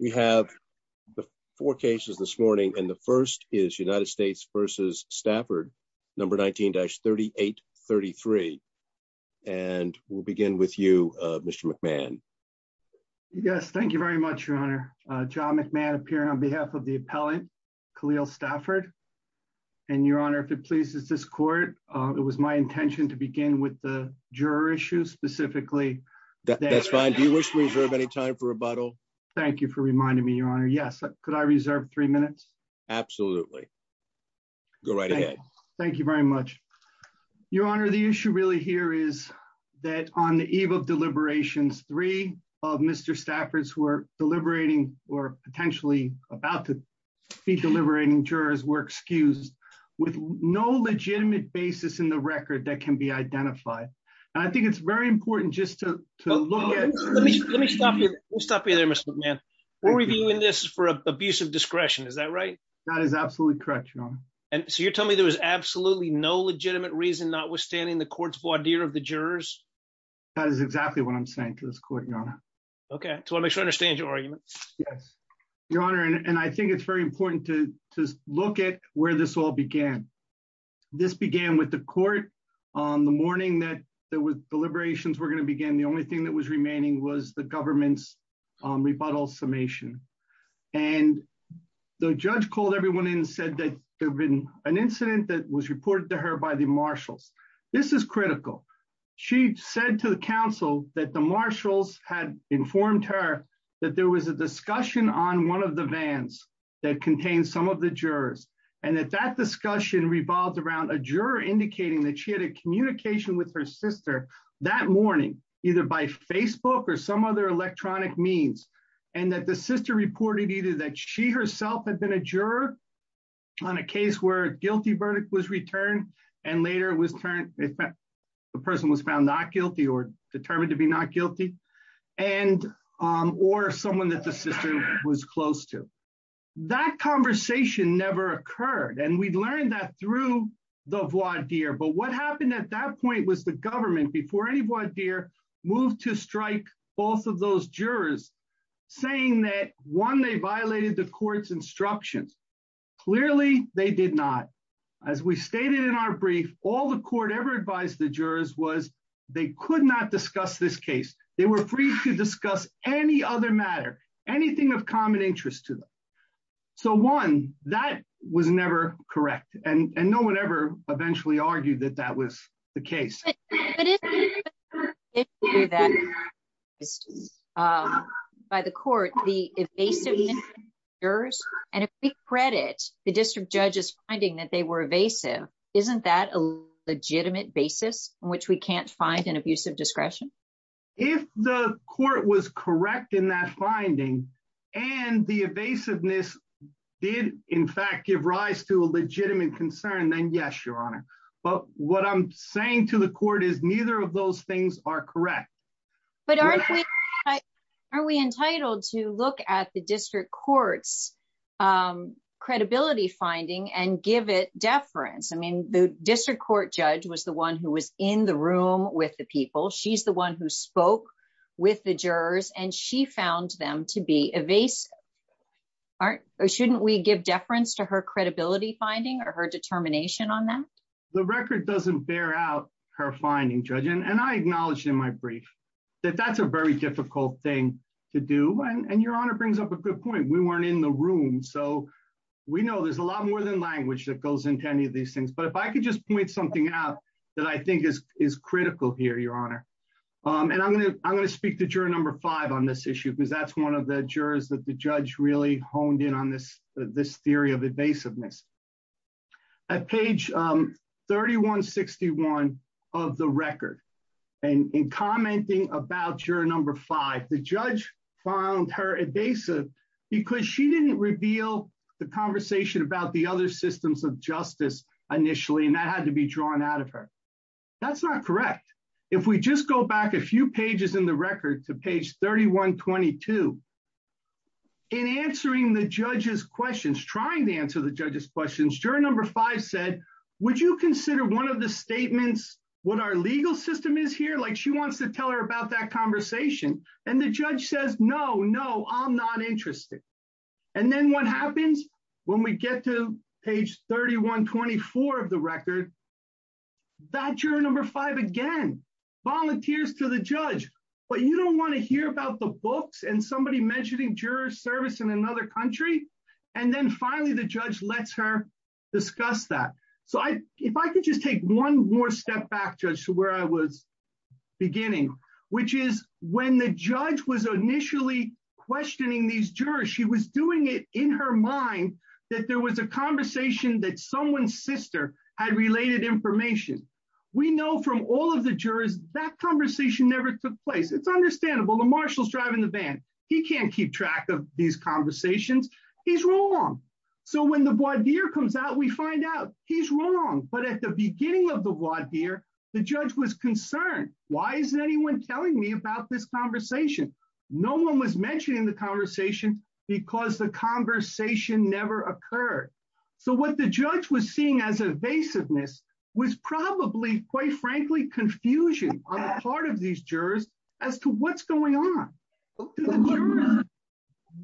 we have the four cases this morning and the first is United States versus Stafford number 19-3833 and we'll begin with you uh Mr. McMahon yes thank you very much your honor uh John McMahon appearing on behalf of the appellant Khalil Stafford and your honor if it pleases this court uh it was my intention to begin with the juror issue specifically that's fine do you wish to reserve any time for rebuttal thank you for reminding me your honor yes could I reserve three minutes absolutely go right ahead thank you very much your honor the issue really here is that on the eve of deliberations three of Mr. Stafford's who are deliberating or potentially about to be deliberating jurors were excused with no legitimate basis in the record that can be we'll stop you there Mr. McMahon we're reviewing this for abusive discretion is that right that is absolutely correct your honor and so you're telling me there was absolutely no legitimate reason notwithstanding the court's voir dire of the jurors that is exactly what I'm saying to this court your honor okay so I make sure I understand your arguments yes your honor and I think it's very important to just look at where this all began this began with the court on the morning that there was deliberations were going to begin the only thing that was remaining was the government's rebuttal summation and the judge called everyone in said that there had been an incident that was reported to her by the marshals this is critical she said to the council that the marshals had informed her that there was a discussion on one of the vans that contained some of the jurors and that that discussion revolved around a juror indicating that she communication with her sister that morning either by Facebook or some other electronic means and that the sister reported either that she herself had been a juror on a case where a guilty verdict was returned and later it was turned the person was found not guilty or determined to be not guilty and or someone that the sister was close to that conversation never occurred and we learned that through the voir dire but what happened at that point was the government before any voir dire moved to strike both of those jurors saying that one they violated the court's instructions clearly they did not as we stated in our brief all the court ever advised the jurors was they could not discuss this case they were free to discuss any other matter anything of correct and and no one ever eventually argued that that was the case by the court the evasive jurors and if we credit the district judge's finding that they were evasive isn't that a legitimate basis on which we can't find an abusive discretion if the court was correct in that finding and the evasiveness did in fact give rise to a legitimate concern then yes your honor but what i'm saying to the court is neither of those things are correct but aren't we are we entitled to look at the district court's um credibility finding and give it deference i mean the district court judge was the one who was in the room with the people she's the one who spoke with the jurors and she found them to be evasive aren't or shouldn't we give deference to her credibility finding or her determination on that the record doesn't bear out her finding judge and i acknowledged in my brief that that's a very difficult thing to do and your honor brings up a good point we weren't in the room so we know there's a lot more than language that goes into any of these things but if i could just point something out that i think is is here your honor um and i'm going to i'm going to speak to juror number five on this issue because that's one of the jurors that the judge really honed in on this this theory of evasiveness at page um 3161 of the record and in commenting about juror number five the judge found her evasive because she didn't reveal the conversation about the other systems of justice initially and had to be drawn out of her that's not correct if we just go back a few pages in the record to page 3122 in answering the judge's questions trying to answer the judge's questions juror number five said would you consider one of the statements what our legal system is here like she wants to tell her about that conversation and the judge says no no i'm not interested and then what happens when we get to page 3124 of the record that juror number five again volunteers to the judge but you don't want to hear about the books and somebody mentioning juror service in another country and then finally the judge lets her discuss that so i if i could just take one more step back judge to where i was beginning which is when the judge was initially questioning these jurors she was doing it in her mind that there was a conversation that someone's sister had related information we know from all of the jurors that conversation never took place it's understandable the marshal's driving the van he can't keep track of these conversations he's wrong so when the voir dire comes out we find out he's wrong but at the beginning of the voir dire the judge was concerned why isn't anyone telling me about this conversation no one was mentioning the conversation because the conversation never occurred so what the judge was seeing as evasiveness was probably quite frankly confusion on the part of these jurors as to what's going on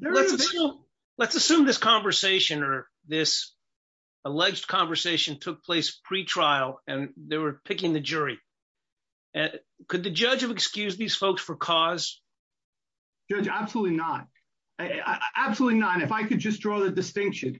let's assume this conversation or this alleged conversation took place pre-trial and they were absolutely not if i could just draw the distinction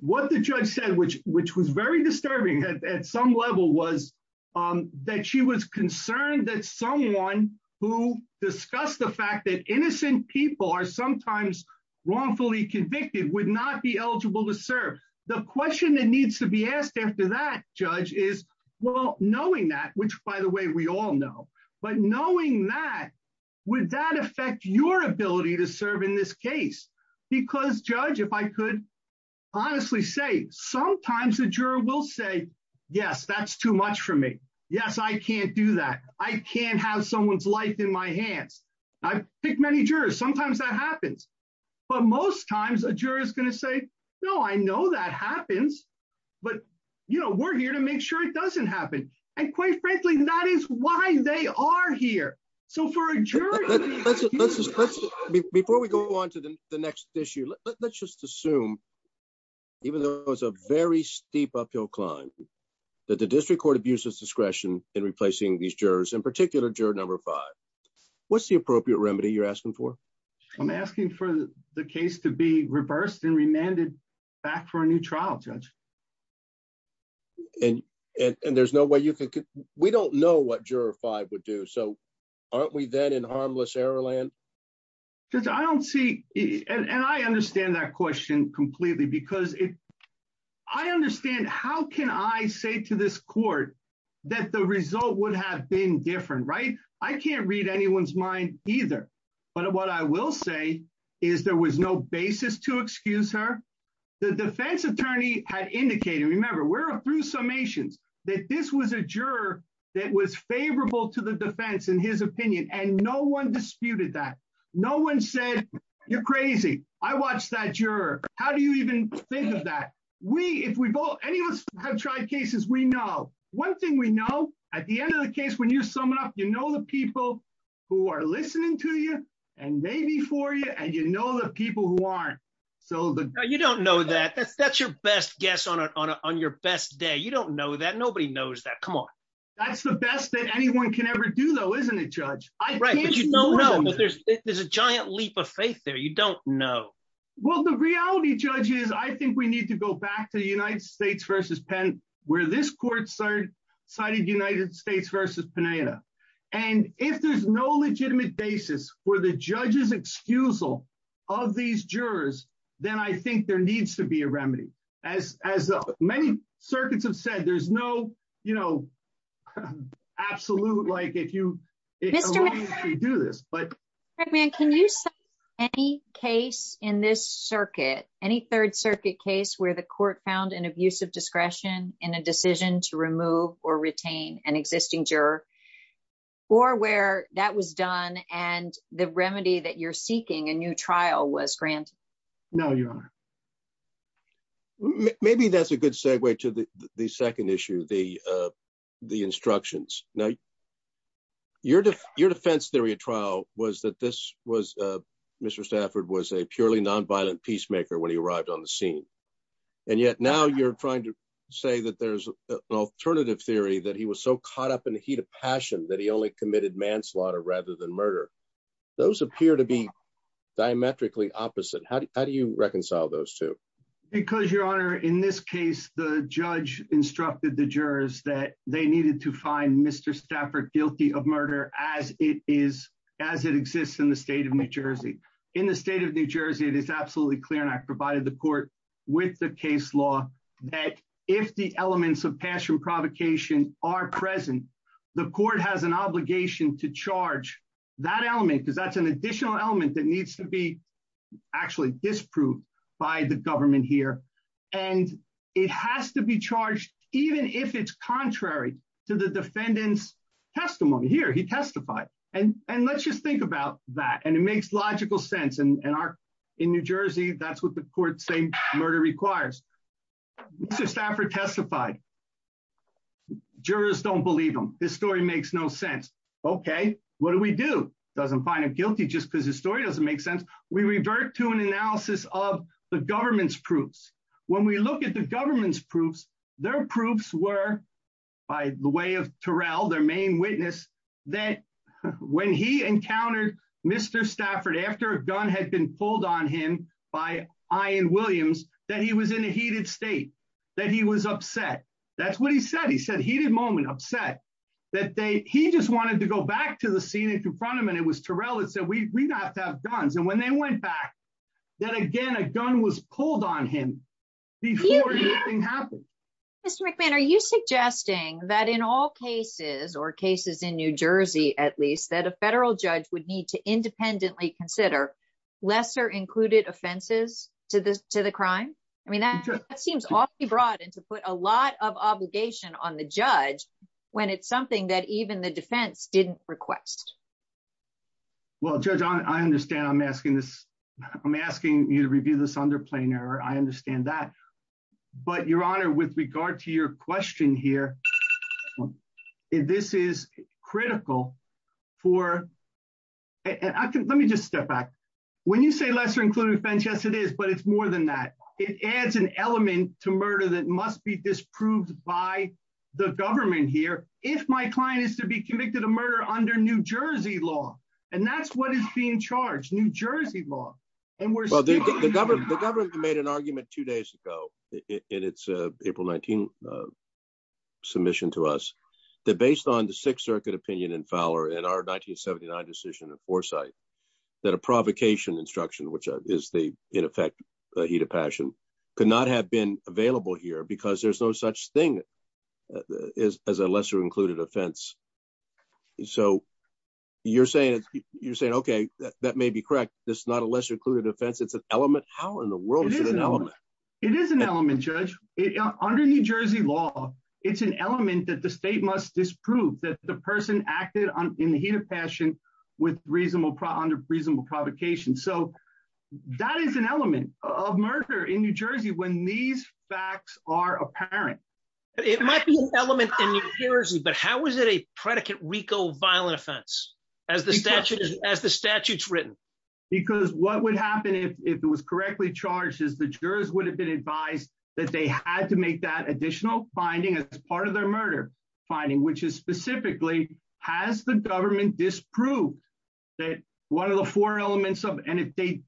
what the judge said which which was very disturbing at some level was that she was concerned that someone who discussed the fact that innocent people are sometimes wrongfully convicted would not be eligible to serve the question that needs to be asked after that judge is well knowing that which by the way we all know but knowing that would that affect your ability to serve in this case because judge if i could honestly say sometimes the juror will say yes that's too much for me yes i can't do that i can't have someone's life in my hands i've picked many jurors sometimes that happens but most times a juror is going to say no i know that happens but you know we're here to make sure it doesn't happen and quite frankly that is why they are here so for a jury before we go on to the next issue let's just assume even though it's a very steep uphill climb that the district court abuses discretion in replacing these jurors in particular juror number five what's the appropriate remedy you're asking for i'm asking for the case to be reversed and remanded back for a new trial judge and and there's no way you could we don't know what juror five would do so aren't we then in harmless error land because i don't see and i understand that question completely because it i understand how can i say to this court that the result would have been different right i can't read anyone's mind either but what i will say is there was no basis to excuse her the defense attorney had indicated remember we're through summations that this was a juror that was favorable to the defense in his opinion and no one disputed that no one said you're crazy i watched that juror how do you even think of that we if we both any of us have tried cases we know one thing we know at the end of the case when you're summing up you know the people who are listening to you and maybe for you and you know the people who aren't so the you don't know that that's that's your best guess on on your best day you don't know that nobody knows that come on that's the best that anyone can ever do though isn't it judge right but you don't know but there's there's a giant leap of faith there you don't know well the reality judge is i think we need to go back to the united states versus penn where this court started cited united states versus panetta and if there's no legitimate basis for the judge's excusal of these jurors then i think there needs to be a remedy as as many circuits have said there's no you know absolute like if you do this but can you say any case in this circuit any third circuit case where the court found an abusive discretion in a decision to remove or retain an existing juror or where that was done and the remedy that you're seeking a new trial was granted no your honor maybe that's a good segue to the the second issue the uh the instructions now your your defense theory of trial was that this was uh mr stafford was a purely non-violent peacemaker when he arrived on the scene and yet now you're trying to say that there's an alternative theory that he was so caught up in the heat of passion that he only committed manslaughter rather than murder those appear to be diametrically opposite how do you reconcile those two because your honor in this case the judge instructed the jurors that they needed to find mr stafford guilty of murder as it is as it exists in the state of court with the case law that if the elements of passion provocation are present the court has an obligation to charge that element because that's an additional element that needs to be actually disproved by the government here and it has to be charged even if it's contrary to the defendant's testimony here he testified and and let's just think about that and it makes logical sense and our in new jersey that's what the court say murder requires mr stafford testified jurors don't believe him this story makes no sense okay what do we do doesn't find him guilty just because the story doesn't make sense we revert to an analysis of the government's proofs when we look at the government's proofs their proofs were by the way of torel their main witness that when he encountered mr stafford after a gun had been pulled on him by iron williams that he was in a heated state that he was upset that's what he said he said he did moment upset that they he just wanted to go back to the scene and confront him and it was torel that said we we don't have to have guns and when they went back that again a gun was pulled on him before anything mr mcmahon are you suggesting that in all cases or cases in new jersey at least that a federal judge would need to independently consider lesser included offenses to this to the crime i mean that seems awfully broad and to put a lot of obligation on the judge when it's something that even the defense didn't request well judge i understand i'm asking this i'm asking you to review this i understand that but your honor with regard to your question here this is critical for and i can let me just step back when you say lesser included offense yes it is but it's more than that it adds an element to murder that must be disproved by the government here if my client is to be convicted of murder under new jersey law and that's what is being new jersey law and we're well the government the government made an argument two days ago in its april 19 submission to us that based on the sixth circuit opinion in fowler in our 1979 decision of foresight that a provocation instruction which is the in effect the heat of passion could not have been available here because there's no such thing as a lesser included offense so you're saying you're saying okay that may be correct this is not a lesser included offense it's an element how in the world is it an element it is an element judge under new jersey law it's an element that the state must disprove that the person acted on in the heat of passion with reasonable under reasonable provocation so that is an element of murder in new jersey when these facts are apparent it might be an element in new jersey but how is it a predicate rico violent offense as the statute as the statute's written because what would happen if it was correctly charged is the jurors would have been advised that they had to make that additional finding as part of their murder finding which is specifically has the government disproved that one of the four elements of and if they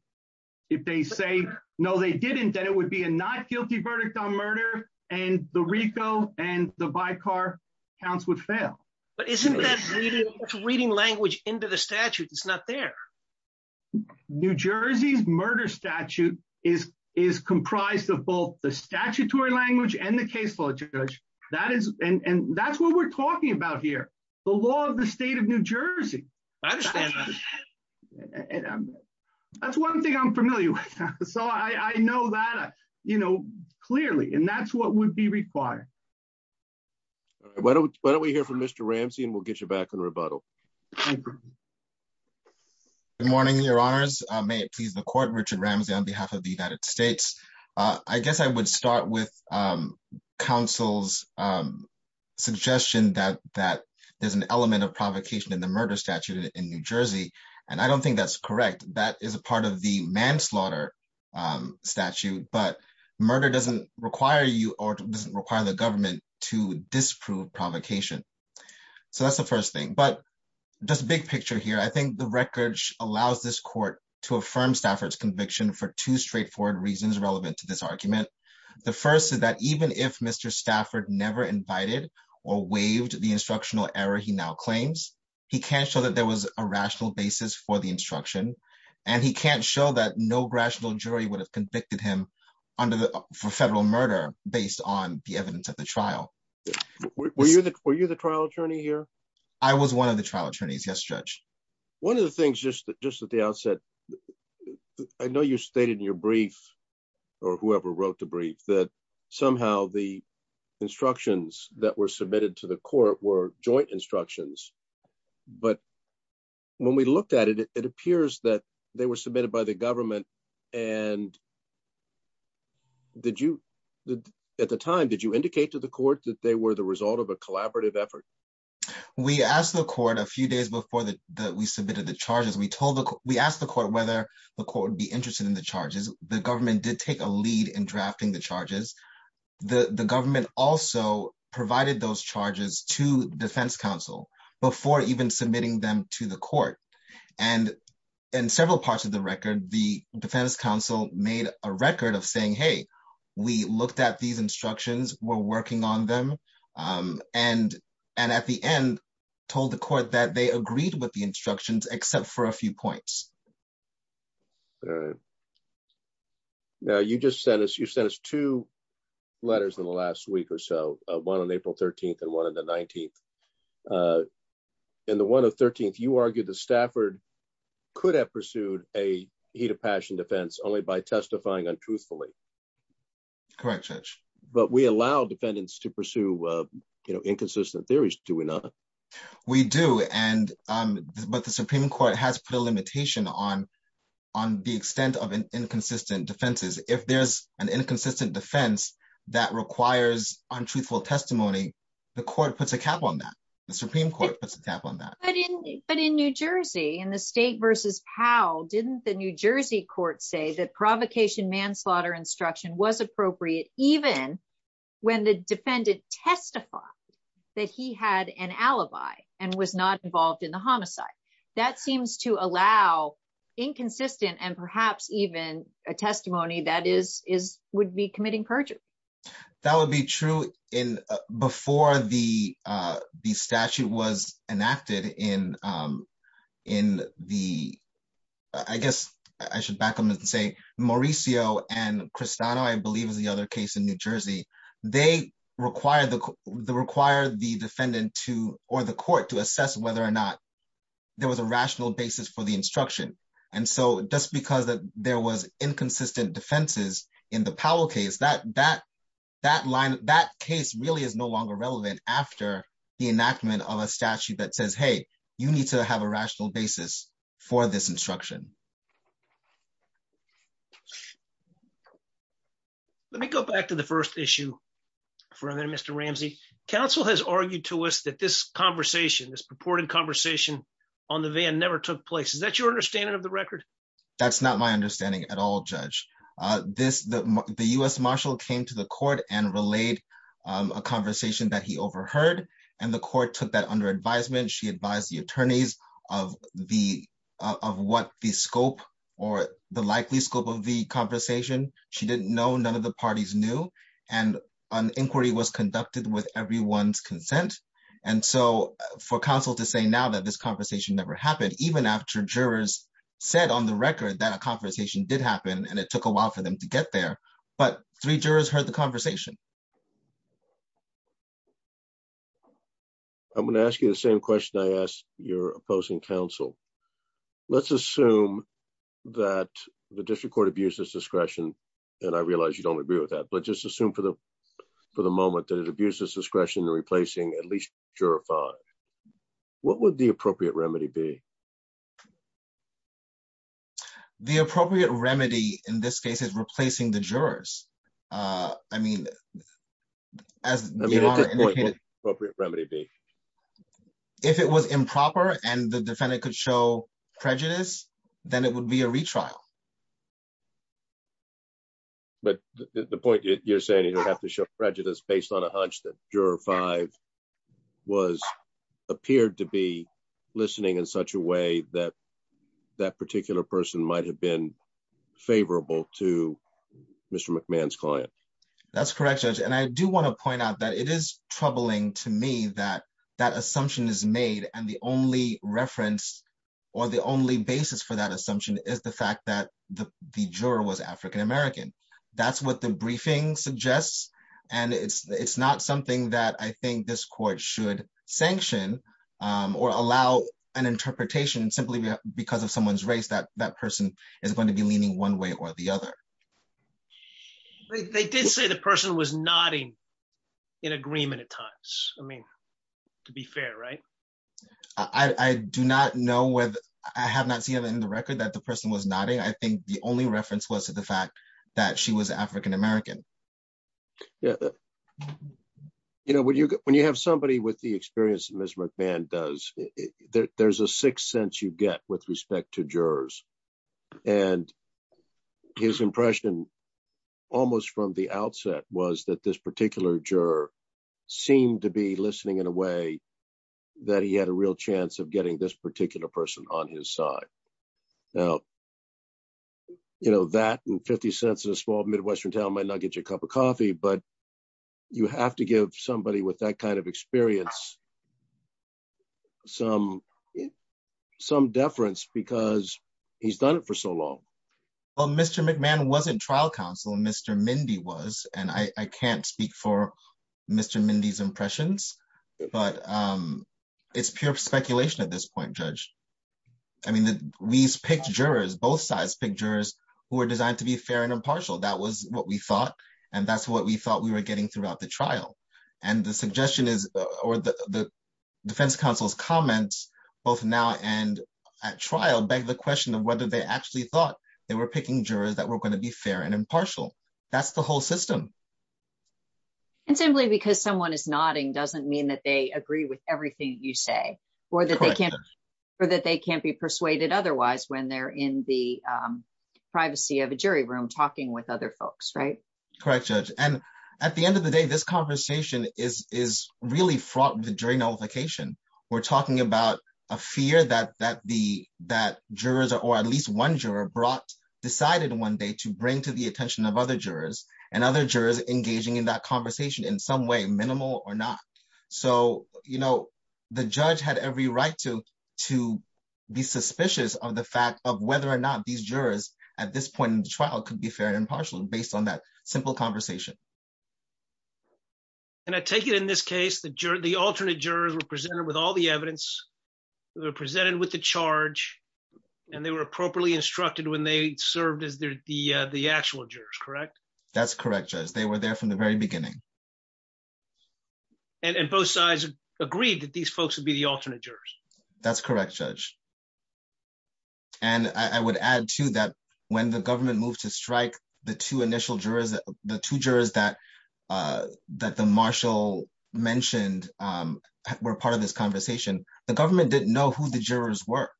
if they say no they didn't then it would be a not guilty verdict on murder and the rico and the by car counts would fail but isn't that reading language into the statute that's not there new jersey's murder statute is is comprised of both the statutory language and the case law judge that is and and that's what we're talking about here the law of the state of new jersey i understand that that's one thing i'm familiar with so i i know that you know clearly and that's what would be required why don't why don't we hear from mr ramsey and we'll get you back on rebuttal good morning your honors may it please the court richard ramsey on behalf of the united states uh i guess i would start with um counsel's um suggestion that that there's an element of provocation in the murder statute in new jersey and i don't think that's correct that is a part of the manslaughter um statute but murder doesn't require you or doesn't require the government to disprove provocation so that's the first thing but just big picture here i think the record allows this court to affirm stafford's conviction for two straightforward reasons relevant to this argument the first is that even if mr stafford never invited or waived the instructional error he now claims he can't show that there was a rational basis for the instruction and he can't show that no rational jury would have convicted him under the for federal murder based on the evidence of the trial were you the were you the trial attorney here i was one of the trial yes judge one of the things just just at the outset i know you stated in your brief or whoever wrote the brief that somehow the instructions that were submitted to the court were joint instructions but when we looked at it it appears that they were submitted by the government and did you at the time did you indicate to the court that they were the result of a collaborative effort we asked the court a few days before that we submitted the charges we told the we asked the court whether the court would be interested in the charges the government did take a lead in drafting the charges the the government also provided those charges to defense council before even submitting them to the court and in several parts of the record the defense council made a and at the end told the court that they agreed with the instructions except for a few points all right now you just sent us you sent us two letters in the last week or so one on april 13th and one of the 19th uh and the one of 13th you argued that stafford could have pursued a heat of passion defense only by testifying untruthfully correct judge but we allow defendants to pursue you know inconsistent theories to another we do and um but the supreme court has put a limitation on on the extent of an inconsistent defenses if there's an inconsistent defense that requires untruthful testimony the court puts a cap on that the supreme court puts a cap on that but in but in new jersey in the state versus powell didn't the new jersey court say that provocation manslaughter instruction was appropriate even when the defendant testified that he had an alibi and was not involved in the homicide that seems to allow inconsistent and perhaps even a testimony that is is would be committing perjury that would be true in before the uh the statute was enacted in um in the i guess i should back them and say mauricio and cristiano i believe is the other case in new jersey they require the the require the defendant to or the court to assess whether or not there was a rational basis for the instruction and so just because that there was inconsistent defenses in the powell case that that that line that case really is no longer relevant after the enactment of a statute that says hey you need to have a rational basis for this instruction let me go back to the first issue for a minute mr ramsey council has argued to us that this conversation this purported conversation on the van never took place is that your understanding of the record that's not my understanding at all judge uh this the the u.s marshal came to the he overheard and the court took that under advisement she advised the attorneys of the of what the scope or the likely scope of the conversation she didn't know none of the parties knew and an inquiry was conducted with everyone's consent and so for council to say now that this conversation never happened even after jurors said on the record that a conversation did happen and it took a while for them to get there but three jurors heard the conversation i'm going to ask you the same question i asked your opposing council let's assume that the district court abuses discretion and i realize you don't agree with that but just assume for the for the moment that it abuses discretion in replacing at least juror five what would the appropriate remedy be the appropriate remedy in this case is replacing the jurors uh i mean as appropriate remedy b if it was improper and the defendant could show prejudice then it would be a retrial but the point you're saying you don't have to show prejudice based on a hunch that juror five was appeared to be listening in such a way that that particular person might have been to mr mcmahon's client that's correct judge and i do want to point out that it is troubling to me that that assumption is made and the only reference or the only basis for that assumption is the fact that the the juror was african-american that's what the briefing suggests and it's it's not something that i think this court should sanction um or allow an interpretation simply because of someone's race that that person is going to be leaning one way or the other they did say the person was nodding in agreement at times i mean to be fair right i i do not know whether i have not seen in the record that the person was nodding i think the only reference was to the fact that she was african-american yeah you know when you when you have somebody with the experience that mr mcmahon does there's a sixth sense you get with respect to jurors and his impression almost from the outset was that this particular juror seemed to be listening in a way that he had a real chance of getting this particular person on his side now you know that and 50 cents in a small midwestern town might not get you a cup of coffee but you have to give somebody with that kind of experience some some deference because he's done it for so long well mr mcmahon wasn't trial counsel and mr mindy was and i i can't speak for mr mindy's impressions but um it's pure speculation at this point judge i mean we picked jurors both sides picked jurors who were designed to be fair and impartial that was what we thought and that's what we thought we were getting throughout the trial and the suggestion is or the defense counsel's comments both now and at trial beg the question of whether they actually thought they were picking jurors that were going to be fair and impartial that's the whole system and simply because someone is nodding doesn't mean that they agree with everything you say or that they can't or that they can't be persuaded otherwise when they're in the privacy of a jury room talking with other folks right correct judge and at the end of the day this conversation is is really fraught with jury nullification we're talking about a fear that that the that jurors or at least one juror brought decided one day to bring to the attention of other jurors and other jurors engaging in that conversation in some way minimal or not so you know the judge had every right to to be suspicious of the fact of whether or not these jurors at this point in the trial could be fair and impartial based on that simple conversation and i take it in this case the juror the alternate jurors were presented with all the evidence they were presented with the charge and they were appropriately instructed when they served as the the actual jurors correct that's correct judge they were there from the very beginning and and both sides agreed that these folks would be the alternate jurors that's correct judge and i would add to that when the government moved to strike the two initial jurors the two jurors that uh that the marshal mentioned um were part of this conversation the government didn't know who the jurors were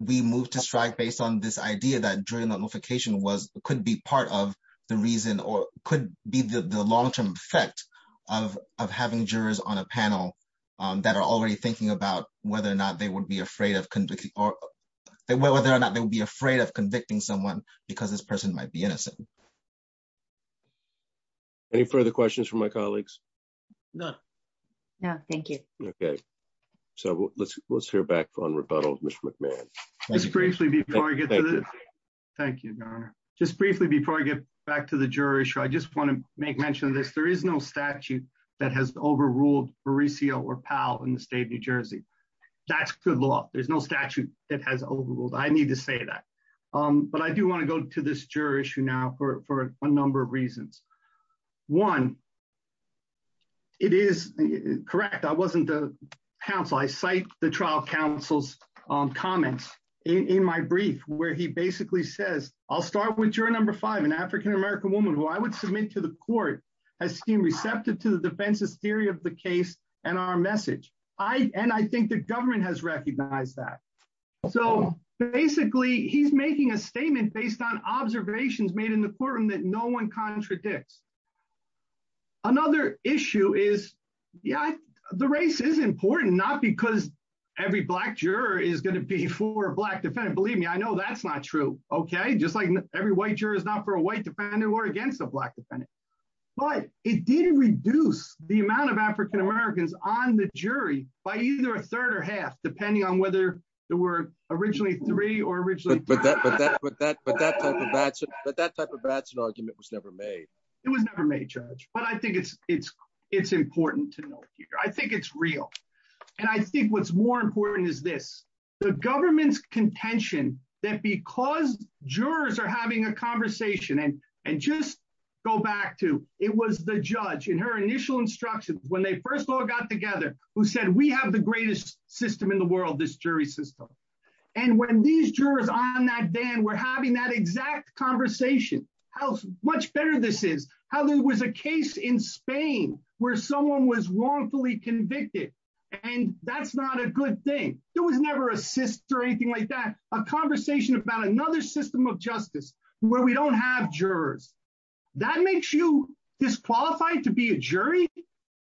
we moved to strike based on this idea that during the notification was could be part of the reason or could be the the long-term effect of of having jurors on a panel um that are already thinking about whether or not they would be afraid of convicting or whether or not they would be afraid of convicting someone because this person might be innocent any further questions from my colleagues no no thank you okay so let's let's hear back on rebuttal with mr mcmahon just briefly before i get to this thank you your honor just briefly before i get back to the jury sure i just want to make mention of this there is no statute that has overruled baricio or pal in the state of new jersey that's good law there's no statute that for a number of reasons one it is correct i wasn't the council i cite the trial counsel's um comments in my brief where he basically says i'll start with jury number five an african-american woman who i would submit to the court has seen receptive to the defense's theory of the case and our message i and i think the government has recognized that so basically he's making a made in the courtroom that no one contradicts another issue is yeah the race is important not because every black juror is going to be for a black defendant believe me i know that's not true okay just like every white juror is not for a white defendant or against a black defendant but it did reduce the amount of african-americans on the jury by either a third or half depending on whether there were originally three or originally but that but that but that type of bats but that type of bats an argument was never made it was never made judge but i think it's it's it's important to note here i think it's real and i think what's more important is this the government's contention that because jurors are having a conversation and and just go back to it was the judge in her initial instructions when they first all got together who said we have the greatest system in the world this jury system and when these jurors on that then we're having that exact conversation how much better this is how there was a case in spain where someone was wrongfully convicted and that's not a good thing there was never a cyst or anything like that a conversation about another system of justice where we don't have jurors that makes you disqualified to be a jury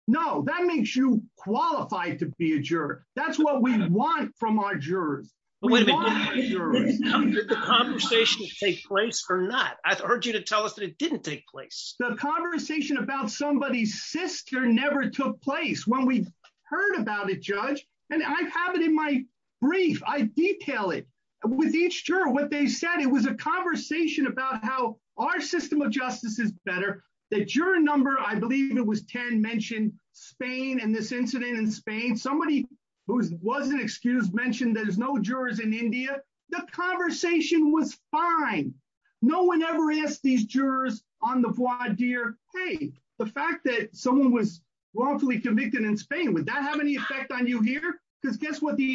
no that makes you qualified to be a juror that's what we want from our jurors the conversation to take place or not i've heard you to tell us that it didn't take place the conversation about somebody's sister never took place when we heard about it judge and i have it in my brief i detail it with each juror what they said it was a conversation about how our system of justice is better the juror number i believe it was 10 mentioned spain and this incident in spain somebody who wasn't excused mentioned there's no jurors in india the conversation was fine no one ever asked these jurors on the voir dire hey the fact that someone was wrongfully convicted in spain would that have any effect on you here because guess what the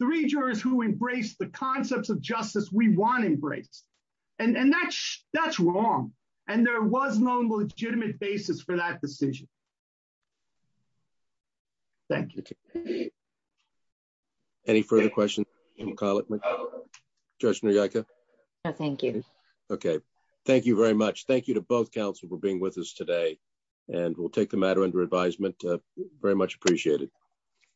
three jurors who embraced the concepts of justice we want embraced and and that's that's wrong and there was no legitimate basis for that decision thank you any further questions judge no thank you okay thank you very much thank you to both council for being with us today and we'll take the matter under advisement very much appreciated